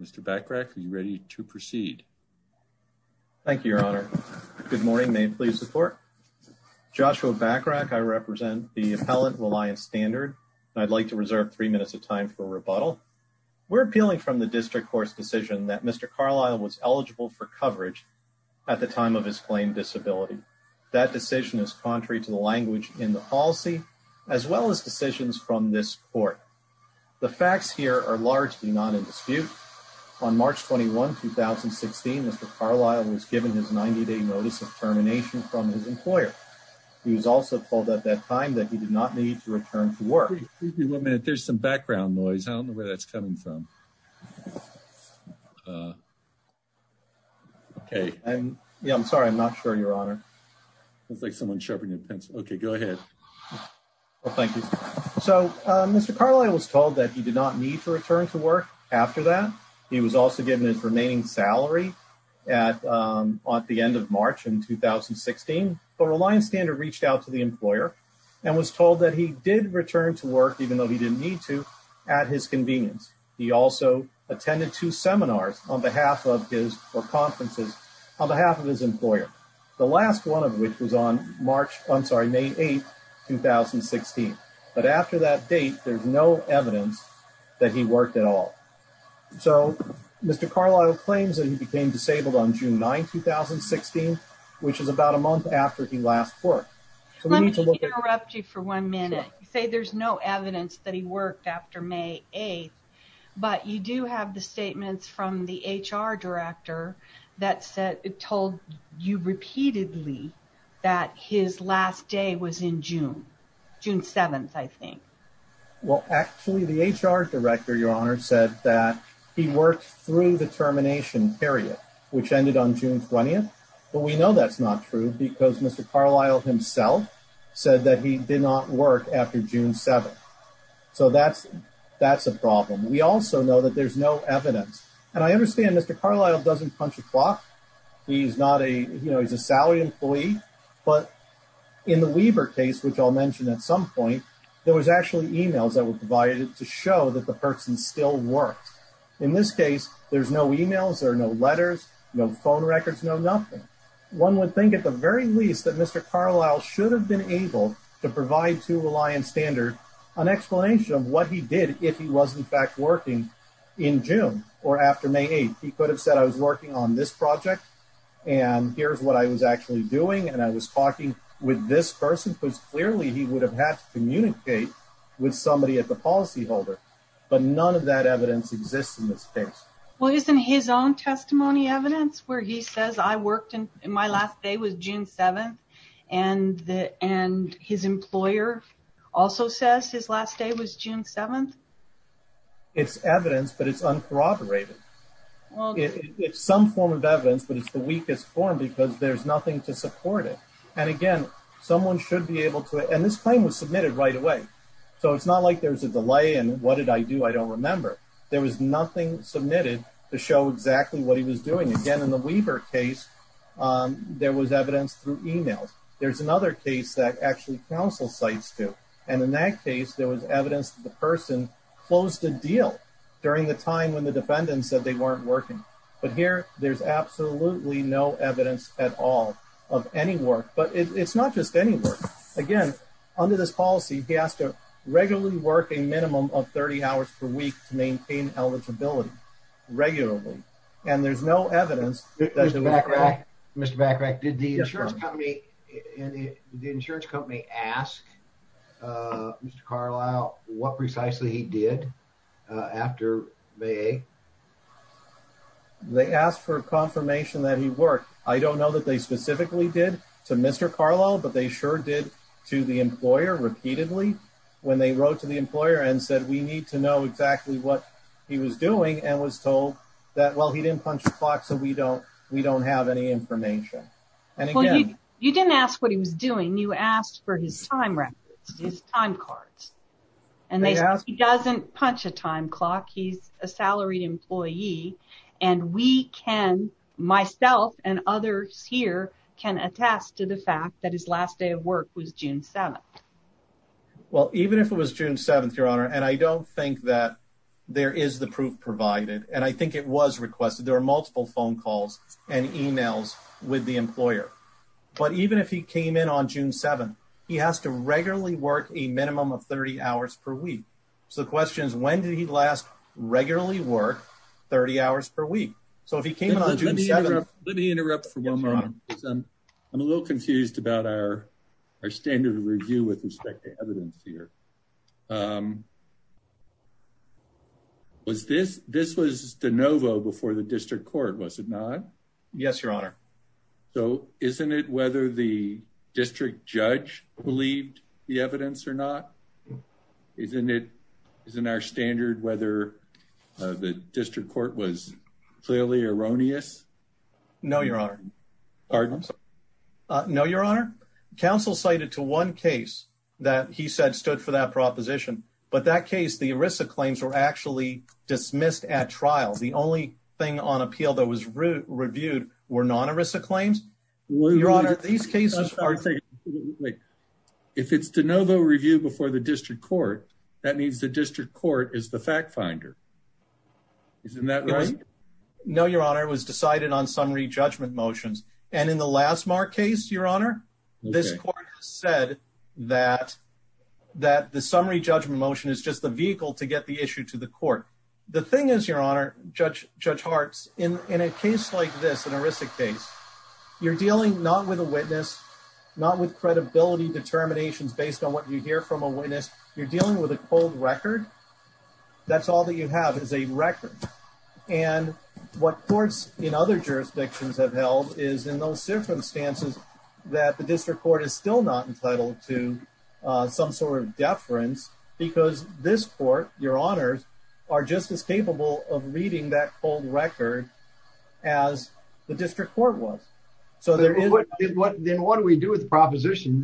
Mr. Bachrach, are you ready to proceed? Thank you, Your Honor. Good morning. May it please the Court? Joshua Bachrach. I represent the appellant, Reliance Standard, and I'd like to reserve three minutes of time for rebuttal. We're appealing from the district court's decision that Mr. Carlisle was eligible for coverage at the time of his claimed disability. That decision is contrary to the language in the policy, as well as decisions from this court. The facts here are largely not in dispute. On March 21, 2016, Mr. Carlisle was given his 90-day notice of termination from his employer. He was also told at that time that he did not need to return to work. Wait a minute. There's some background noise. I don't know where that's coming from. Okay. Yeah, I'm sorry. I'm not sure, Your Honor. It's like someone's sharpening a pencil. Okay, go ahead. Thank you. So Mr. Carlisle was told that he did not need to return to work after that. He was also given his remaining salary at the end of March in 2016. But Reliance Standard reached out to the employer and was told that he did return to work, even though he didn't need to, at his convenience. He also attended two seminars on behalf of his or conferences on behalf of his employer, the last one of which was on May 8, 2016. But after that date, there's no evidence that he worked at all. So Mr. Carlisle claims that he became disabled on June 9, 2016, which is about a month after he last worked. Let me just interrupt you for one minute. You say there's no evidence that he worked after May 8. But you do have the statements from the HR director that told you repeatedly that his last day was in June, June 7, I think. Well, actually, the HR director, Your Honor, said that he worked through the termination period, which ended on June 20. But we know that's not true because Mr. Carlisle himself said that he did not work after June 7. So that's a problem. We also know that there's no evidence. And I understand Mr. Carlisle doesn't punch a clock. He's not a, you know, he's a salary employee. But in the Weber case, which I'll mention at some point, there was actually emails that were provided to show that the person still worked. In this case, there's no emails, there are no letters, no phone records, no nothing. One would think at the very least that Mr. Carlisle should have been able to provide to Reliance Standard an explanation of what he did if he was in fact working in June or after May 8. He could have said, I was working on this project and here's what I was actually doing. And I was talking with this person because clearly he would have had to communicate with somebody at the policyholder. But none of that evidence exists in this case. Well, isn't his own testimony evidence where he says I worked and my last day was June 7? And his employer also says his last day was June 7? It's evidence, but it's uncorroborated. It's some form of evidence, but it's the weakest form because there's nothing to support it. And again, someone should be able to, and this claim was submitted right away. So it's not like there's a delay and what did I do? I don't remember. There was nothing submitted to show exactly what he was doing. Again, in the Weaver case, there was evidence through emails. There's another case that actually counsel cites too. And in that case, there was evidence that the person closed a deal during the time when the defendant said they weren't working. But here, there's absolutely no evidence at all of any work, but it's not just any work. Again, under this policy, he has to regularly work a minimum of 30 hours per week to maintain eligibility regularly. And there's no evidence. Mr. Bacharach, did the insurance company ask Mr. Carlisle what precisely he did after May 8? They asked for confirmation that he worked. I don't know that they specifically did to Mr. Carlisle, but they sure did to the employer repeatedly when they wrote to the employer and said, we need to know exactly what he was doing and was told that, well, he didn't punch the clock. So we don't we don't have any information. And again, you didn't ask what he was doing. You asked for his time records, his time cards, and he doesn't punch a time clock. He's a salaried employee. And we can myself and others here can attest to the fact that his last day of work was June 7th. Well, even if it was June 7th, Your Honor, and I don't think that there is the proof provided, and I think it was requested, there are multiple phone calls and emails with the employer. But even if he came in on June 7, he has to regularly work a minimum of 30 hours per week. So the question is, when did he last regularly work 30 hours per week? So if he came in on June 7th... Let me interrupt for one moment. I'm a little confused about our standard of review with respect to evidence here. This was de novo before the district court, was it not? Yes, Your Honor. So isn't it whether the district judge believed the evidence or not? Isn't our standard whether the district court was clearly erroneous? No, Your Honor. Pardon? No, Your Honor. Counsel cited to one case that he said stood for that proposition. But that case, the ERISA claims were actually dismissed at trial. The only thing on appeal that was reviewed were non-ERISA claims. Your Honor, these cases are... If it's de novo review before the district court, that means the district court is the fact finder. Isn't that right? No, Your Honor. It was decided on summary judgment motions. And in the last Mark case, Your Honor, this court said that the summary judgment motion is just the vehicle to get the issue to the court. The thing is, Your Honor, Judge Hartz, in a case like this, an ERISA case, you're dealing not with a witness, not with credibility determinations based on what you hear from a witness. You're dealing with a cold record. That's all that you have is a record. And what courts in other jurisdictions have held is in those circumstances that the district court is still not entitled to some sort of deference because this court, Your Honors, are just as capable of reading that cold record as the district court was. Then what do we do with the proposition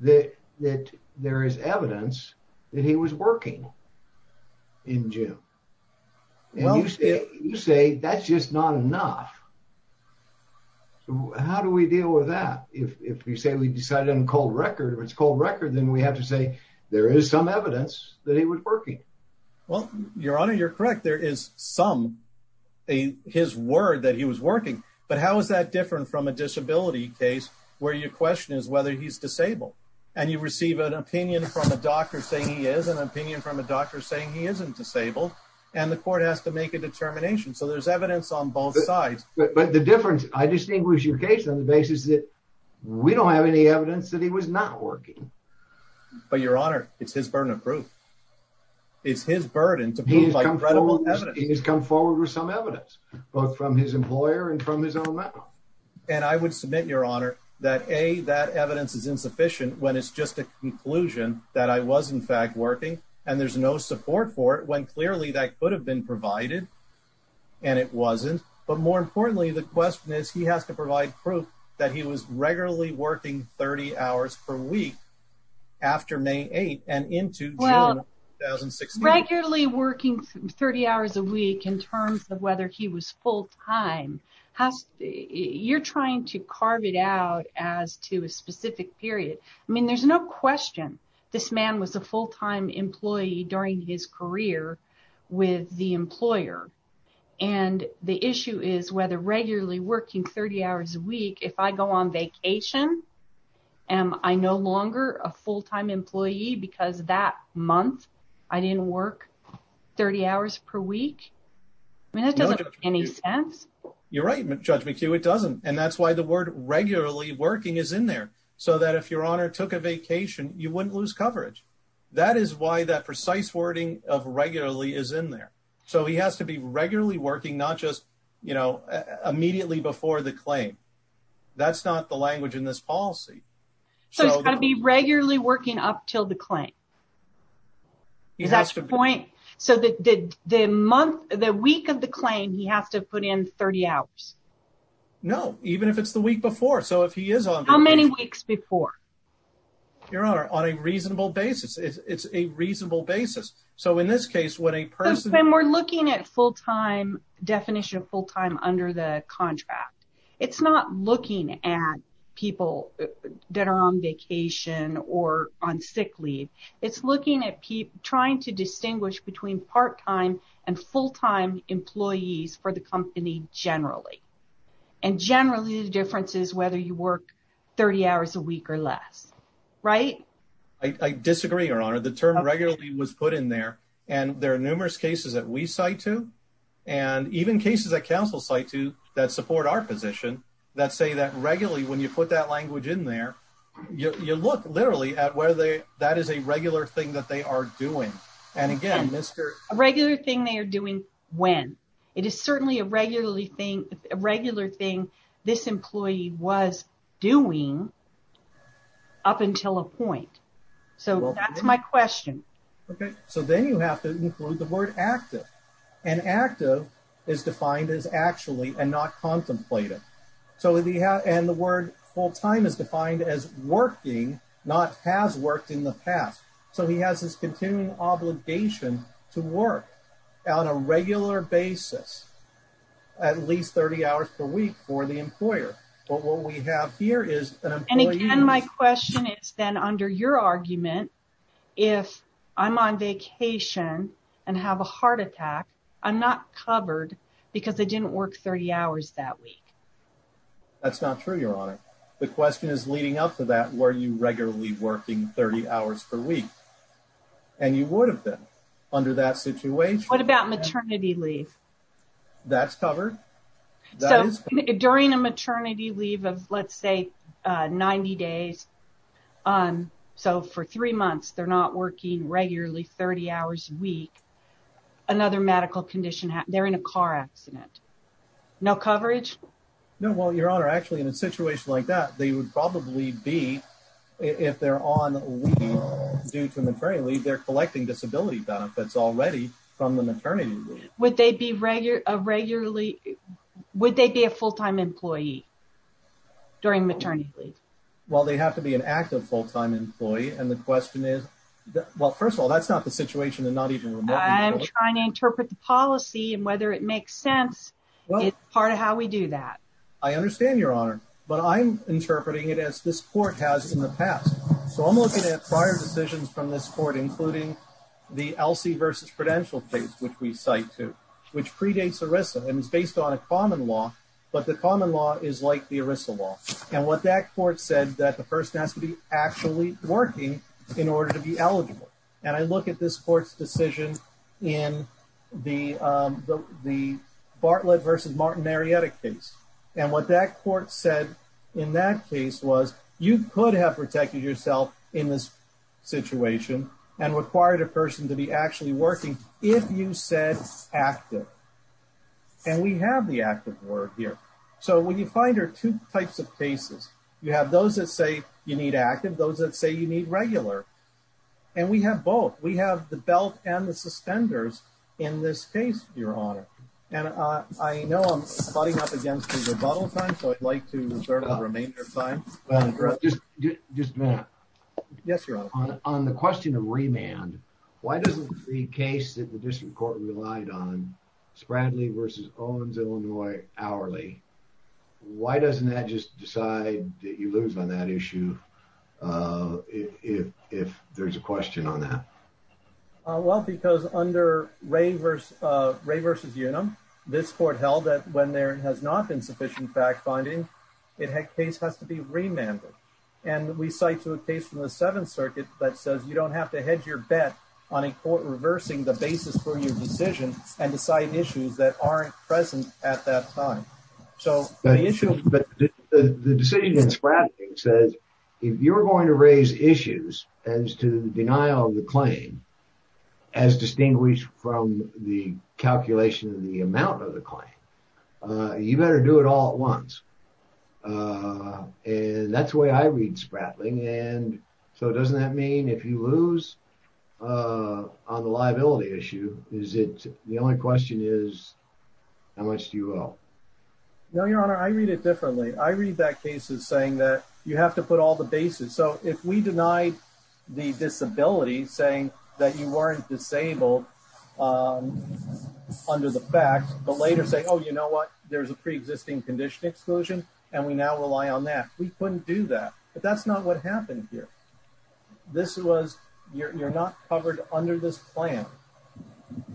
that there is evidence that he was working in June? You say that's just not enough. How do we deal with that? If you say we decided on cold record, if it's cold record, then we have to say there is some evidence that he was working. Well, Your Honor, you're correct. There is some, his word that he was working. But how is that different from a disability case where your question is whether he's disabled? And you receive an opinion from a doctor saying he is, an opinion from a doctor saying he isn't disabled, and the court has to make a determination. So there's evidence on both sides. But the difference, I distinguish your case on the basis that we don't have any evidence that he was not working. But, Your Honor, it's his burden of proof. It's his burden to prove credible evidence. He has come forward with some evidence, both from his employer and from his own mouth. And I would submit, Your Honor, that A, that evidence is insufficient when it's just a conclusion that I was in fact working, and there's no support for it when clearly that could have been provided, and it wasn't. But more importantly, the question is he has to provide proof that he was regularly working 30 hours per week after May 8 and into June of 2016. Well, regularly working 30 hours a week in terms of whether he was full-time, you're trying to carve it out as to a specific period. I mean, there's no question this man was a full-time employee during his career with the employer. And the issue is whether regularly working 30 hours a week, if I go on vacation, am I no longer a full-time employee because that month I didn't work 30 hours per week? I mean, that doesn't make any sense. You're right, Judge McHugh, it doesn't. And that's why the word regularly working is in there, so that if Your Honor took a vacation, you wouldn't lose coverage. That is why that precise wording of regularly is in there. So he has to be regularly working, not just immediately before the claim. That's not the language in this policy. So he's got to be regularly working up till the claim? Is that your point? So the week of the claim, he has to put in 30 hours? No, even if it's the week before. How many weeks before? Your Honor, on a reasonable basis. It's a reasonable basis. When we're looking at definition of full-time under the contract, it's not looking at people that are on vacation or on sick leave. It's looking at trying to distinguish between part-time and full-time employees for the company generally. And generally, the difference is whether you work 30 hours a week or less, right? I disagree, Your Honor. The term regularly was put in there, and there are numerous cases that we cite to, and even cases that counsel cite to that support our position, that say that regularly when you put that language in there, you look literally at whether that is a regular thing that they are doing. And again, Mr. A regular thing they are doing when? It is certainly a regular thing this employee was doing up until a point. So that's my question. Okay. So then you have to include the word active. And active is defined as actually and not contemplated. And the word full-time is defined as working, not has worked in the past. So he has this continuing obligation to work on a regular basis at least 30 hours per week for the employer. And again, my question is then under your argument, if I'm on vacation and have a heart attack, I'm not covered because I didn't work 30 hours that week. That's not true, Your Honor. The question is leading up to that, were you regularly working 30 hours per week? And you would have been under that situation. What about maternity leave? That's covered. So during a maternity leave of let's say 90 days, so for three months, they're not working regularly 30 hours a week, another medical condition, they're in a car accident. No coverage? No, well, Your Honor, actually in a situation like that, they would probably be, if they're on leave due to maternity leave, they're collecting disability benefits already from the maternity leave. Would they be a full-time employee during maternity leave? Well, they have to be an active full-time employee. And the question is, well, first of all, that's not the situation and not even remotely. I'm trying to interpret the policy and whether it makes sense. It's part of how we do that. I understand, Your Honor, but I'm interpreting it as this court has in the past. So I'm looking at prior decisions from this court, including the Elsie v. Prudential case, which we cite too, which predates ERISA and is based on a common law. But the common law is like the ERISA law. And what that court said, that the person has to be actually working in order to be eligible. And I look at this court's decision in the Bartlett v. Martin Marietta case. And what that court said in that case was you could have protected yourself in this situation and required a person to be actually working if you said active. And we have the active word here. So what you find are two types of cases. You have those that say you need active, those that say you need regular. And we have both. We have the belt and the suspenders in this case, Your Honor. And I know I'm butting up against the rebuttal time, so I'd like to reserve the remainder of time. Just a minute. Yes, Your Honor. On the question of remand, why doesn't the case that the district court relied on, Spradley v. Owens Illinois hourly, why doesn't that just decide that you lose on that issue if there's a question on that? Well, because under Ray versus Ray v. Unum, this court held that when there has not been sufficient fact finding, it had case has to be remanded. And we cite to a case from the Seventh Circuit that says you don't have to hedge your bet on a court reversing the basis for your decision and decide issues that aren't present at that time. But the decision in Spradley says if you're going to raise issues as to the denial of the claim, as distinguished from the calculation of the amount of the claim, you better do it all at once. And that's the way I read Spradley. And so doesn't that mean if you lose on the liability issue, is it the only question is how much do you owe? No, Your Honor. I read it differently. I read that case as saying that you have to put all the basis. So if we denied the disability saying that you weren't disabled under the facts, but later say, oh, you know what? There's a preexisting condition exclusion. And we now rely on that. We couldn't do that. But that's not what happened here. This was you're not covered under this plan.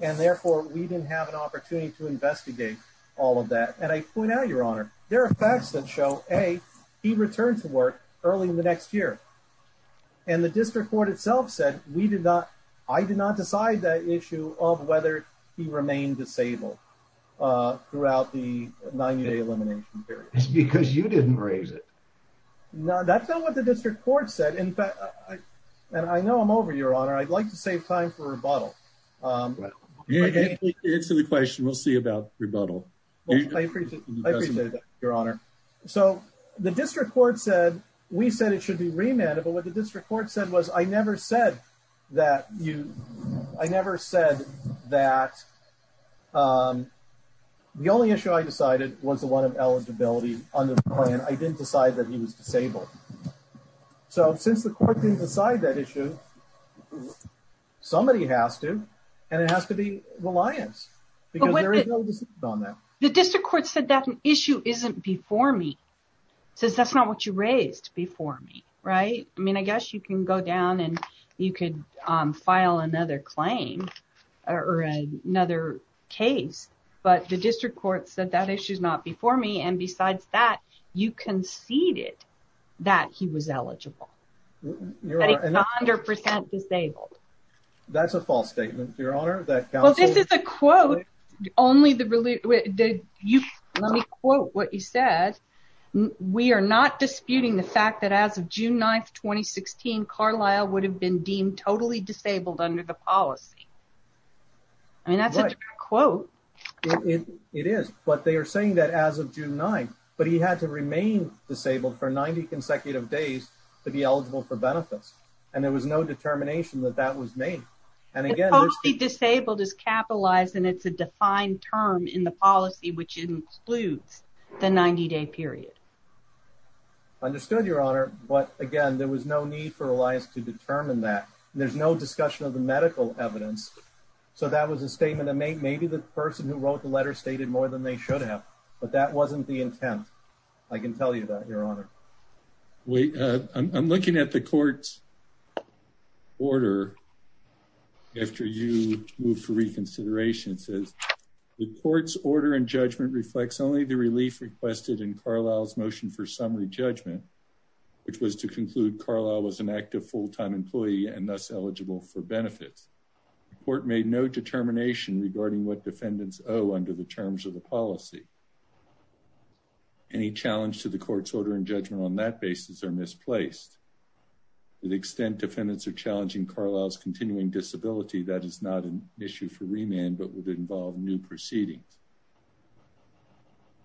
And therefore, we didn't have an opportunity to investigate all of that. And I point out, Your Honor, there are facts that show a return to work early in the next year. And the district court itself said we did not. I did not decide that issue of whether he remained disabled throughout the 90 day elimination period because you didn't raise it. Now, that's not what the district court said. And I know I'm over your honor. I'd like to save time for rebuttal. Answer the question. We'll see about rebuttal. I appreciate that, Your Honor. So the district court said we said it should be remanded. But what the district court said was I never said that you I never said that. The only issue I decided was the one of eligibility on the plan. I didn't decide that he was disabled. So since the court didn't decide that issue, somebody has to. And it has to be reliance on that. The district court said that issue isn't before me. So that's not what you raised before me. Right. I mean, I guess you can go down and you could file another claim or another case. But the district court said that issue is not before me. And besides that, you conceded that he was eligible. That he's 100% disabled. That's a false statement, Your Honor. Well, this is a quote. Let me quote what you said. We are not disputing the fact that as of June 9th, 2016, Carlisle would have been deemed totally disabled under the policy. I mean, that's a true quote. It is. But they are saying that as of June 9th, but he had to remain disabled for 90 consecutive days to be eligible for benefits. And there was no determination that that was made. And again, Disabled is capitalized and it's a defined term in the policy, which includes the 90 day period. Understood your honor. But again, there was no need for Elias to determine that there's no discussion of the medical evidence. So that was a statement that may, maybe the person who wrote the letter stated more than they should have, but that wasn't the intent. I can tell you that your honor. I'm looking at the courts. Order. After you move for reconsideration, it says. The court's order and judgment reflects only the relief requested in Carlisle's motion for summary judgment. Which was to conclude Carlisle was an active full-time employee and thus eligible for benefits. The court made no determination regarding what defendants owe under the terms of the policy. Any challenge to the court's order and judgment on that basis are misplaced. The extent defendants are challenging Carlisle's continuing disability. That is not an issue for remand, but would involve new proceedings.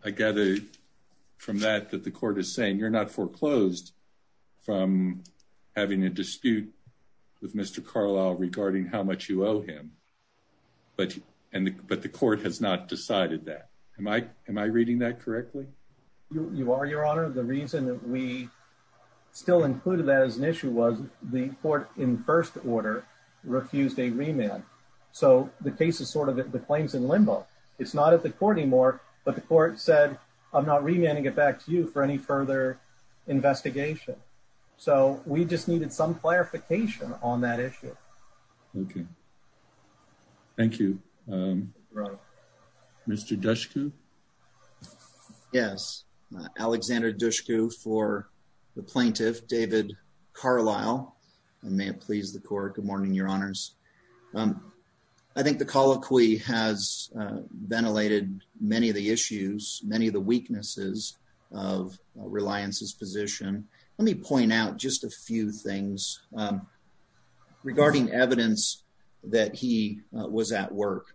I gather. From that, that the court is saying you're not foreclosed. From having a dispute with Mr. Carlisle regarding how much you owe him. But, and, but the court has not decided that. Am I, am I reading that correctly? You are your honor. The reason that we. Still included that as an issue was the court in first order. Refused a remand. So the case is sort of the claims in limbo. It's not at the court anymore, but the court said, I'm not remanding it back to you for any further. Investigation. So we just needed some clarification on that issue. Okay. Thank you. Mr. Dushku. Yes. Alexander Dushku for. The plaintiff, David. Carlisle. And may it please the court. Good morning, your honors. I think the colloquy has. Ventilated many of the issues, many of the weaknesses. Of reliance's position. Let me point out just a few things. Regarding evidence that he was at work.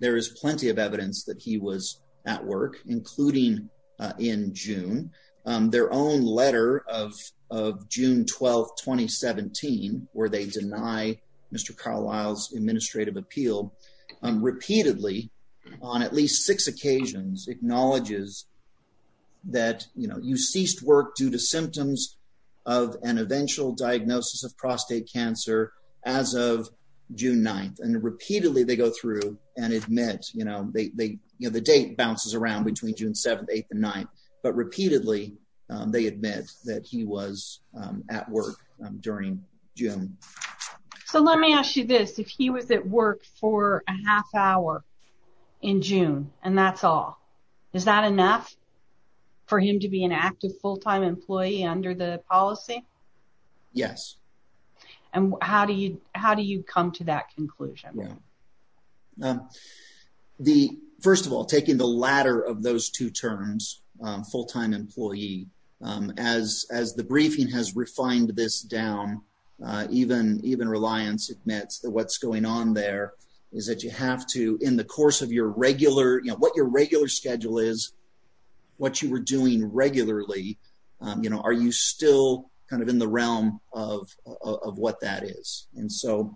There is plenty of evidence that he was at work, including. In June. In June of 2017. Their own letter of, of June 12th, 2017. Where they deny Mr. Carlisle's administrative appeal. Repeatedly. On at least six occasions. Acknowledges. That, you know, you ceased work due to symptoms. Of an eventual diagnosis of prostate cancer. As of June 9th. And repeatedly they go through and admit, you know, they, they, you know, the date bounces around between June 7th, 8th and nine. But repeatedly. They admit that he was at work. During June. So let me ask you this. If he was at work for a half hour. In June and that's all. Is that enough? For him to be an active full-time employee under the policy. Yes. And how do you, how do you come to that conclusion? The first of all, taking the ladder of those two terms. Full-time employee. As, as the briefing has refined this down. You know, you, you have to be a full-time employee, even, even reliance. That's the, what's going on there. Is that you have to, in the course of your regular, you know, what your regular schedule is. What you were doing regularly. You know, are you still kind of in the realm of, of, of what that is. And so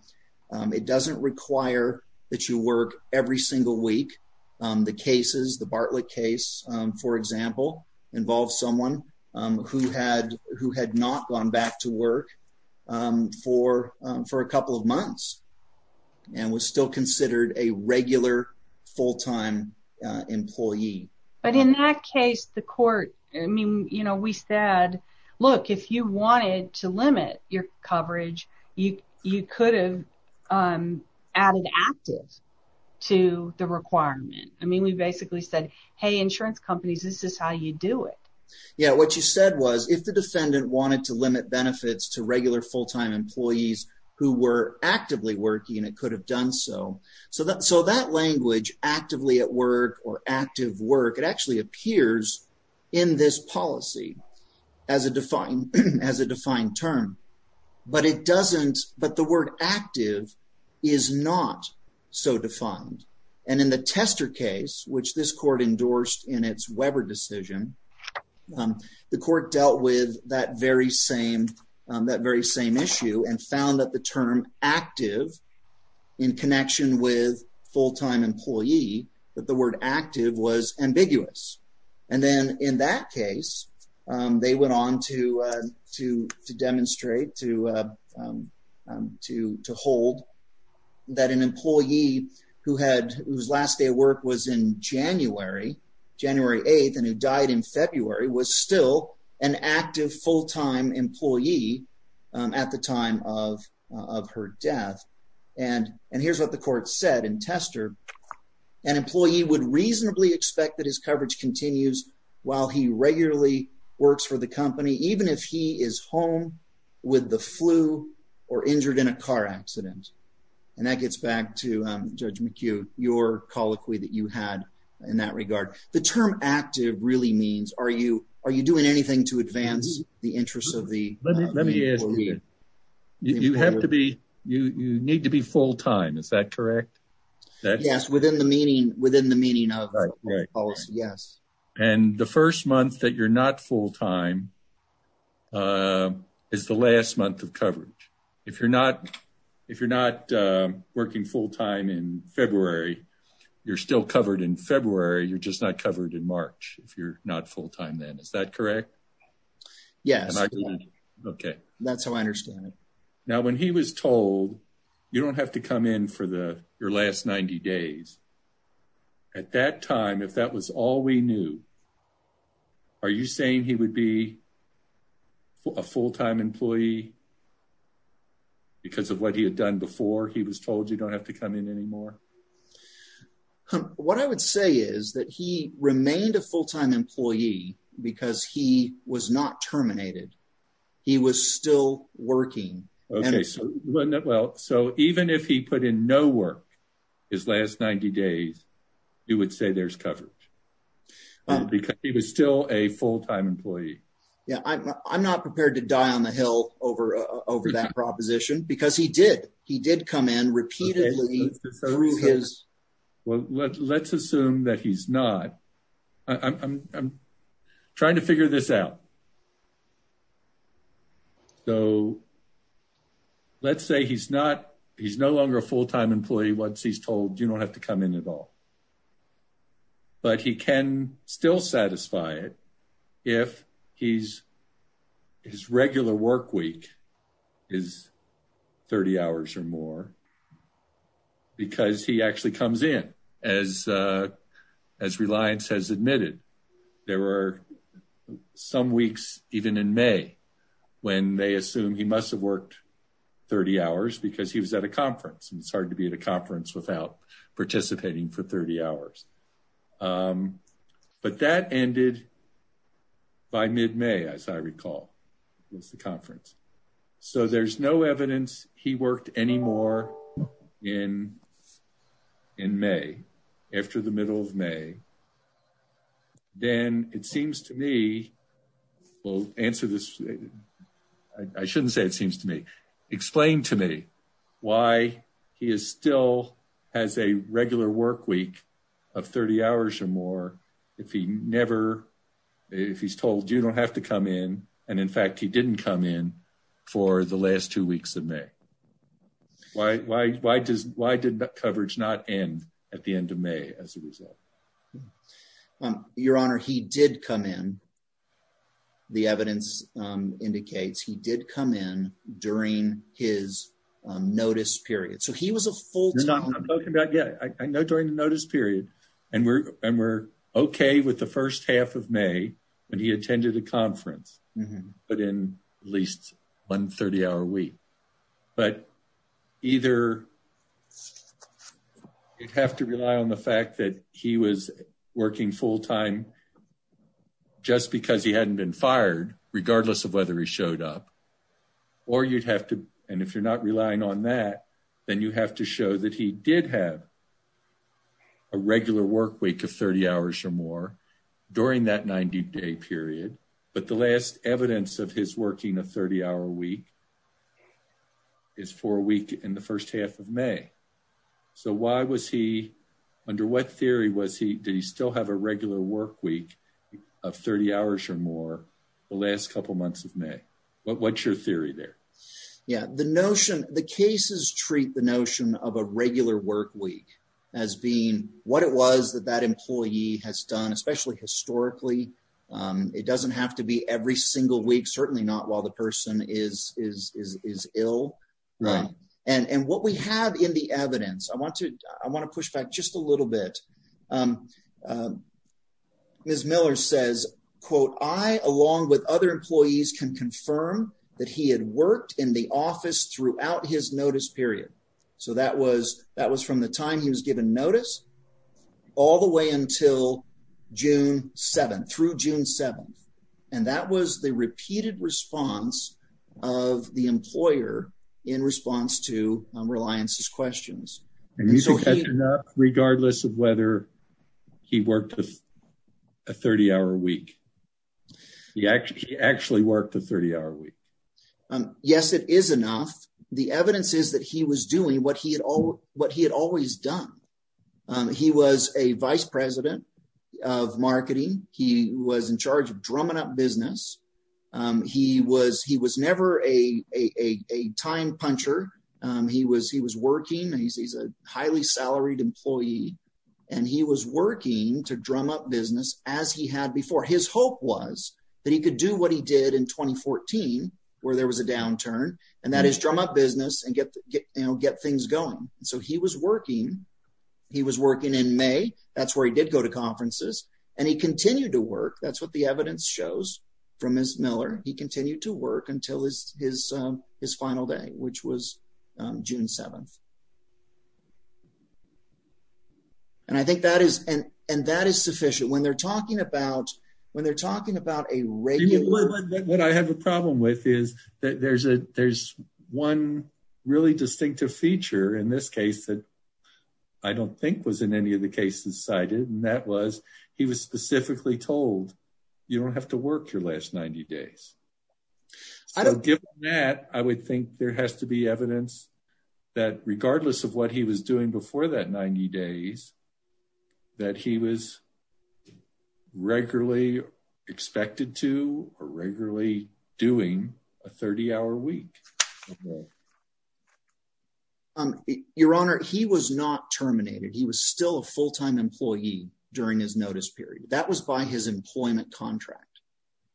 it doesn't require that you work every single week. The cases, the Bartlett case, for example. Involves someone who had, who had not gone back to work for for a couple of months. And was still considered a regular full-time employee. But in that case, the court, I mean, you know, we said, look, if you wanted to limit your coverage, you, you could have. Added active to the requirement. I mean, we basically said, Hey, this is how you do it. Yeah. What you said was if the defendant wanted to limit benefits to regular full-time employees who were actively working and it could have done. So, so that, so that language actively at work or active work, it actually appears in this policy. As a defined, as a defined term, but it doesn't, but the word active is not so defined. And in the tester case, which this court endorsed in its Weber decision, the court dealt with that very same, that very same issue and found that the term active in connection with full-time employee, that the word active was ambiguous. And then in that case, they went on to, to, to demonstrate, to, to, to hold that an employee who had, whose last day of work was in January, January 8th, and who died in February was still an active full-time employee at the time of, of her death. And, and here's what the court said in tester, an employee would reasonably expect that his coverage continues while he regularly works for the company. Even if he is home with the flu or injured in a car accident. And that gets back to judge McHugh, your colloquy that you had in that regard, the term active really means are you, are you doing anything to advance the interests of the employee? You have to be, you, you need to be full-time. Is that correct? Yes. Within the meaning, within the meaning of the policy. Yes. And the first month that you're not full-time is the last month of coverage. If you're not, if you're not working full-time in February, you're still covered in February. You're just not covered in March. If you're not full-time then, is that correct? Yes. Okay. That's how I understand it. Now, when he was told, you don't have to come in for the, your last 90 days at that time, if that was all we knew, are you saying he would be a full-time employee because of what he had done before he was told you don't have to come in anymore? What I would say is that he remained a full-time employee because he was not terminated. He was still working. Okay. So, well, so even if he put in no work his last 90 days, he would say there's coverage because he was still a full-time employee. Yeah. I'm not prepared to die on the Hill over, over that proposition because he did, he did come in repeatedly through his. Well, let's assume that he's not, I'm trying to figure this out. So let's say he's not, he's no longer a full-time employee once he's told you don't have to come in at all, but he can still satisfy it. If he's his regular work week is 30 hours or more because he actually comes in as a, as Reliance has admitted, there were some weeks even in May when they assume he must have worked 30 hours because he was at a conference and it's hard to be at a conference without participating for 30 hours. But that ended by mid-May as I recall was the conference. So there's no evidence he worked anymore in, in May after the middle of May. Then it seems to me we'll answer this. I shouldn't say it seems to me, explain to me why he is still has a regular work week of 30 hours or more. If he never, if he's told you don't have to come in. And in fact, he didn't come in for the last two weeks of May. Why, why, why does, why did that coverage not end at the end of May as a result? Your honor, he did come in. The evidence indicates he did come in during his notice period. So he was a full time. Yeah, I know during the notice period and we're, and we're okay with the first half of May when he attended a conference, but in at least one 30 hour week, but either you'd have to rely on the fact that he was working full time just because he hadn't been fired, regardless of whether he showed up or you'd have to. And if you're not relying on that, then you have to show that he did have a regular work week of 30 hours or more during that 90 day period. But the last evidence of his working a 30 hour week is for a week in the first half of May. So why was he under what theory was he, did he still have a regular work week of 30 hours or more the last couple months of May? What, what's your theory there? Yeah. The notion, the cases treat the notion of a regular work week as being what it was that that employee has done, especially historically. It doesn't have to be every single week. Certainly not while the person is, is, is, is ill. Right. And, and what we have in the evidence, I want to, I want to push back just a little bit. Ms. Miller says, quote, I along with other employees can confirm that he had worked in the office throughout his notice period. So that was, that was from the time he was given notice all the way until June 7th. Through June 7th. And that was the repeated response of the employer in response to Reliance's questions. Regardless of whether he worked with a 30 hour week, he actually, he actually worked a 30 hour week. Yes, it is enough. The evidence is that he was doing what he had, what he had always done. He was a vice president of marketing. He was in charge of drumming up business. He was, he was never a, a, a, a time puncher. He was, he was working and he's, he's a highly salaried employee and he was working to drum up business as he had before. His hope was that he could do what he did in 2014 where there was a downturn and that is drum up business and get, you know, get things going. And so he was working, he was working in may. That's where he did go to conferences and he continued to work. That's what the evidence shows from his Miller. He continued to work until his, his, his final day, which was June 7th. And I think that is an, and that is sufficient when they're talking about, when they're talking about a regular, what I have a problem with is that there's a, there's one really distinctive feature in this case that I don't think was in any of the cases cited. And that was, he was specifically told, you don't have to work your last 90 days. So given that, I would think there has to be evidence that regardless of what he was doing before that 90 days, that he was regularly expected to, or regularly doing a 30 hour week. Your honor, he was not terminated. He was still a full-time employee during his notice period. That was by his employment contract.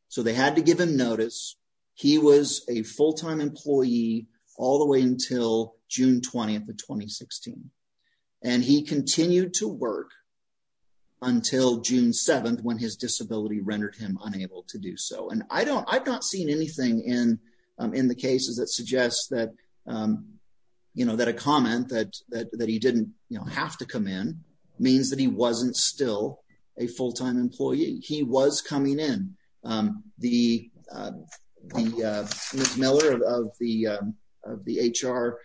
So they had to give him notice. He was a full-time employee all the way until June 20th of 2016. And he continued to work until June 7th when his disability rendered him unable to do so. And I don't, I've not seen anything in, in the cases that suggest that, you know, that a comment that, that, that he didn't have to come in means that he wasn't still a full-time employee. He was coming in the, the Ms. Miller of the, of the HR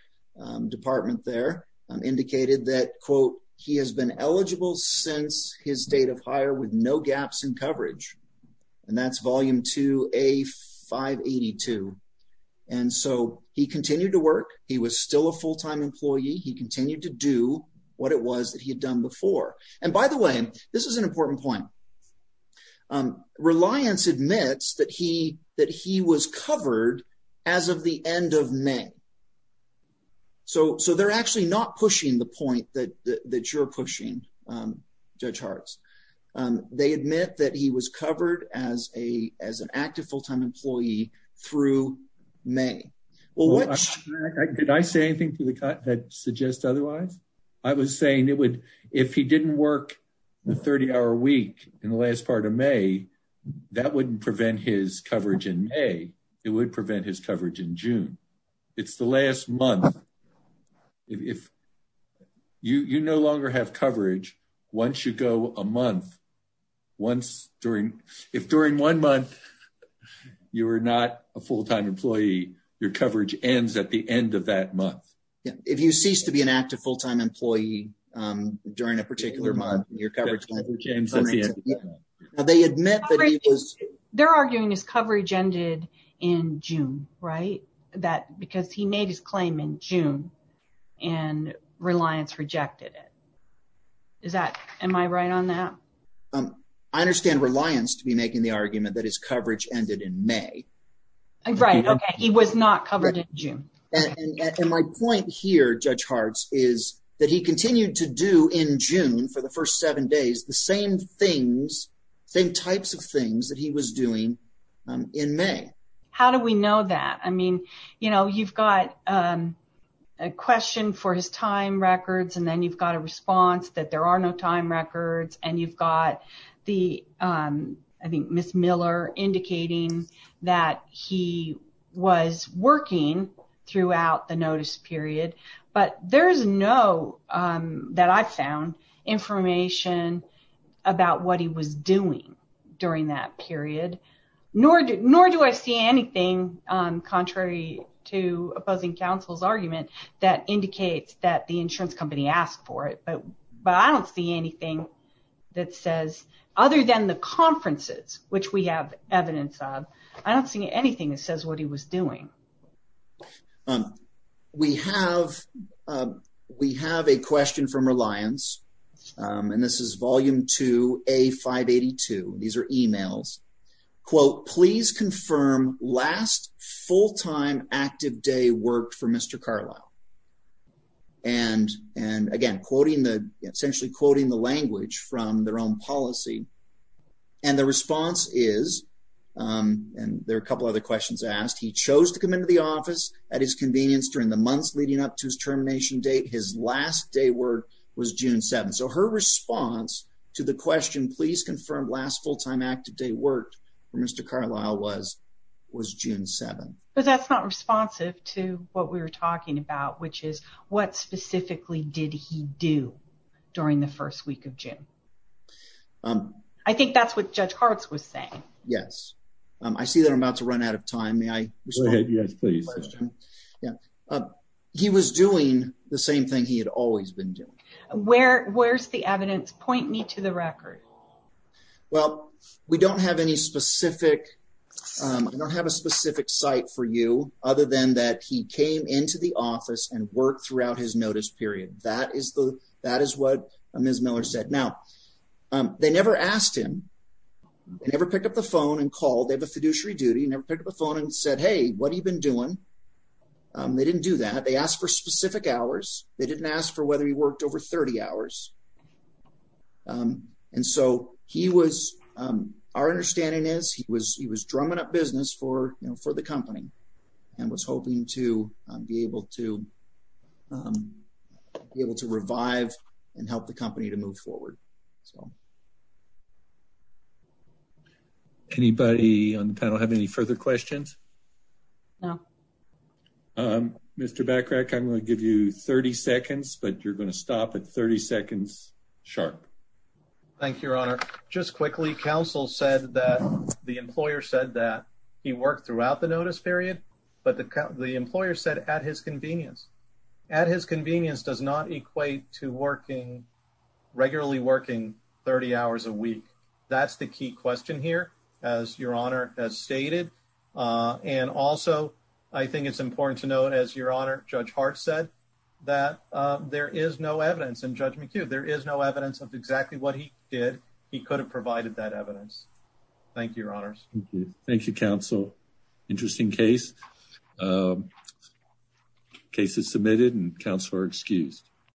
department there indicated that quote, he has been eligible since his date of hire with no gaps in coverage. And that's volume two, a 582. And so he continued to work. He was still a full-time employee. He continued to do what it was that he had done before. And by the way, this is an important point. Reliance admits that he, that he was covered as of the end of May. So, so they're actually not pushing the point that you're pushing judge Charles. They admit that he was covered as a, as an active full-time employee through May. Well, did I say anything to the cut that suggests otherwise I was saying it would, if he didn't work the 30 hour week in the last part of May, that wouldn't prevent his coverage in May. It would prevent his coverage in June. It's the last month. If you, you no longer have coverage. Once you go a month, once during, if during one month, you were not a full-time employee, your coverage ends at the end of that month. Yeah. If you cease to be an active full-time employee during a particular month, your coverage. They admit that he was. They're arguing his coverage ended in June, right? That, because he made his claim in June and Reliance rejected it. Is that, am I right on that? I understand Reliance to be making the argument that his coverage ended in May. Right. Okay. He was not covered in June. And my point here, judge Hartz is that he continued to do in June for the first seven days, the same things, same types of things that he was doing in May. How do we know that? I mean, you know, you've got a question for his time records and then you've got a response that there are no time records and you've got the I think Ms. Miller indicating that he was working throughout the notice period, but there's no that I found information about what he was doing during that period, nor do, nor do I see anything, contrary to opposing counsel's argument that indicates that the insurance company asked for it, but, but I don't see anything that says other than the conferences, which we have evidence of, I don't see anything that says what he was doing. We have we have a question from Reliance and this is volume two, a five 82. These are emails, quote, please confirm last full-time active day work for Mr. Carlisle. And, and again, quoting the, essentially quoting the language from their own policy. And the response is and there are a couple other questions asked. He chose to come into the office at his convenience during the months leading up to his termination date. His last day work was June seven. So her response to the question, please confirm last full-time active day work for Mr. Carlisle was, was June seven. But that's not responsive to what we were talking about, which is what specifically did he do during the first week of June? I think that's what judge hearts was saying. Yes. I see that I'm about to run out of time. May I respond? He was doing the same thing he had always been doing. Where where's the evidence point me to the record. Well, we don't have any specific, I don't have a specific site for you other than that. He came into the office and worked throughout his notice period. That is the, that is what Ms. Miller said. Now they never asked him. They never picked up the phone and called. They have a fiduciary duty. Never picked up a phone and said, Hey, what have you been doing? They didn't do that. They asked for specific hours. They didn't ask for whether he worked over 30 hours. And so he was our understanding is he was, he was drumming up business for, you know, for the company and was hoping to be able to be able to revive and help the company to move forward. Anybody on the panel have any further questions? No. Mr. Backtrack, I'm going to give you 30 seconds, but you're going to stop at 30 seconds sharp. Thank you, Your Honor. Just quickly. Counsel said that the employer said that he worked throughout the notice period, but the, the employer said at his convenience, at his convenience does not equate to working regularly, working 30 hours a week. That's the key question here. As Your Honor has stated. And also I think it's important to note as Your Honor judge Hart said that there is no evidence in judgment queue. There is no evidence of exactly what he did. He could have provided that evidence. Thank you, Your Honors. Thank you, Counsel. Interesting case. Cases submitted and counselor excused.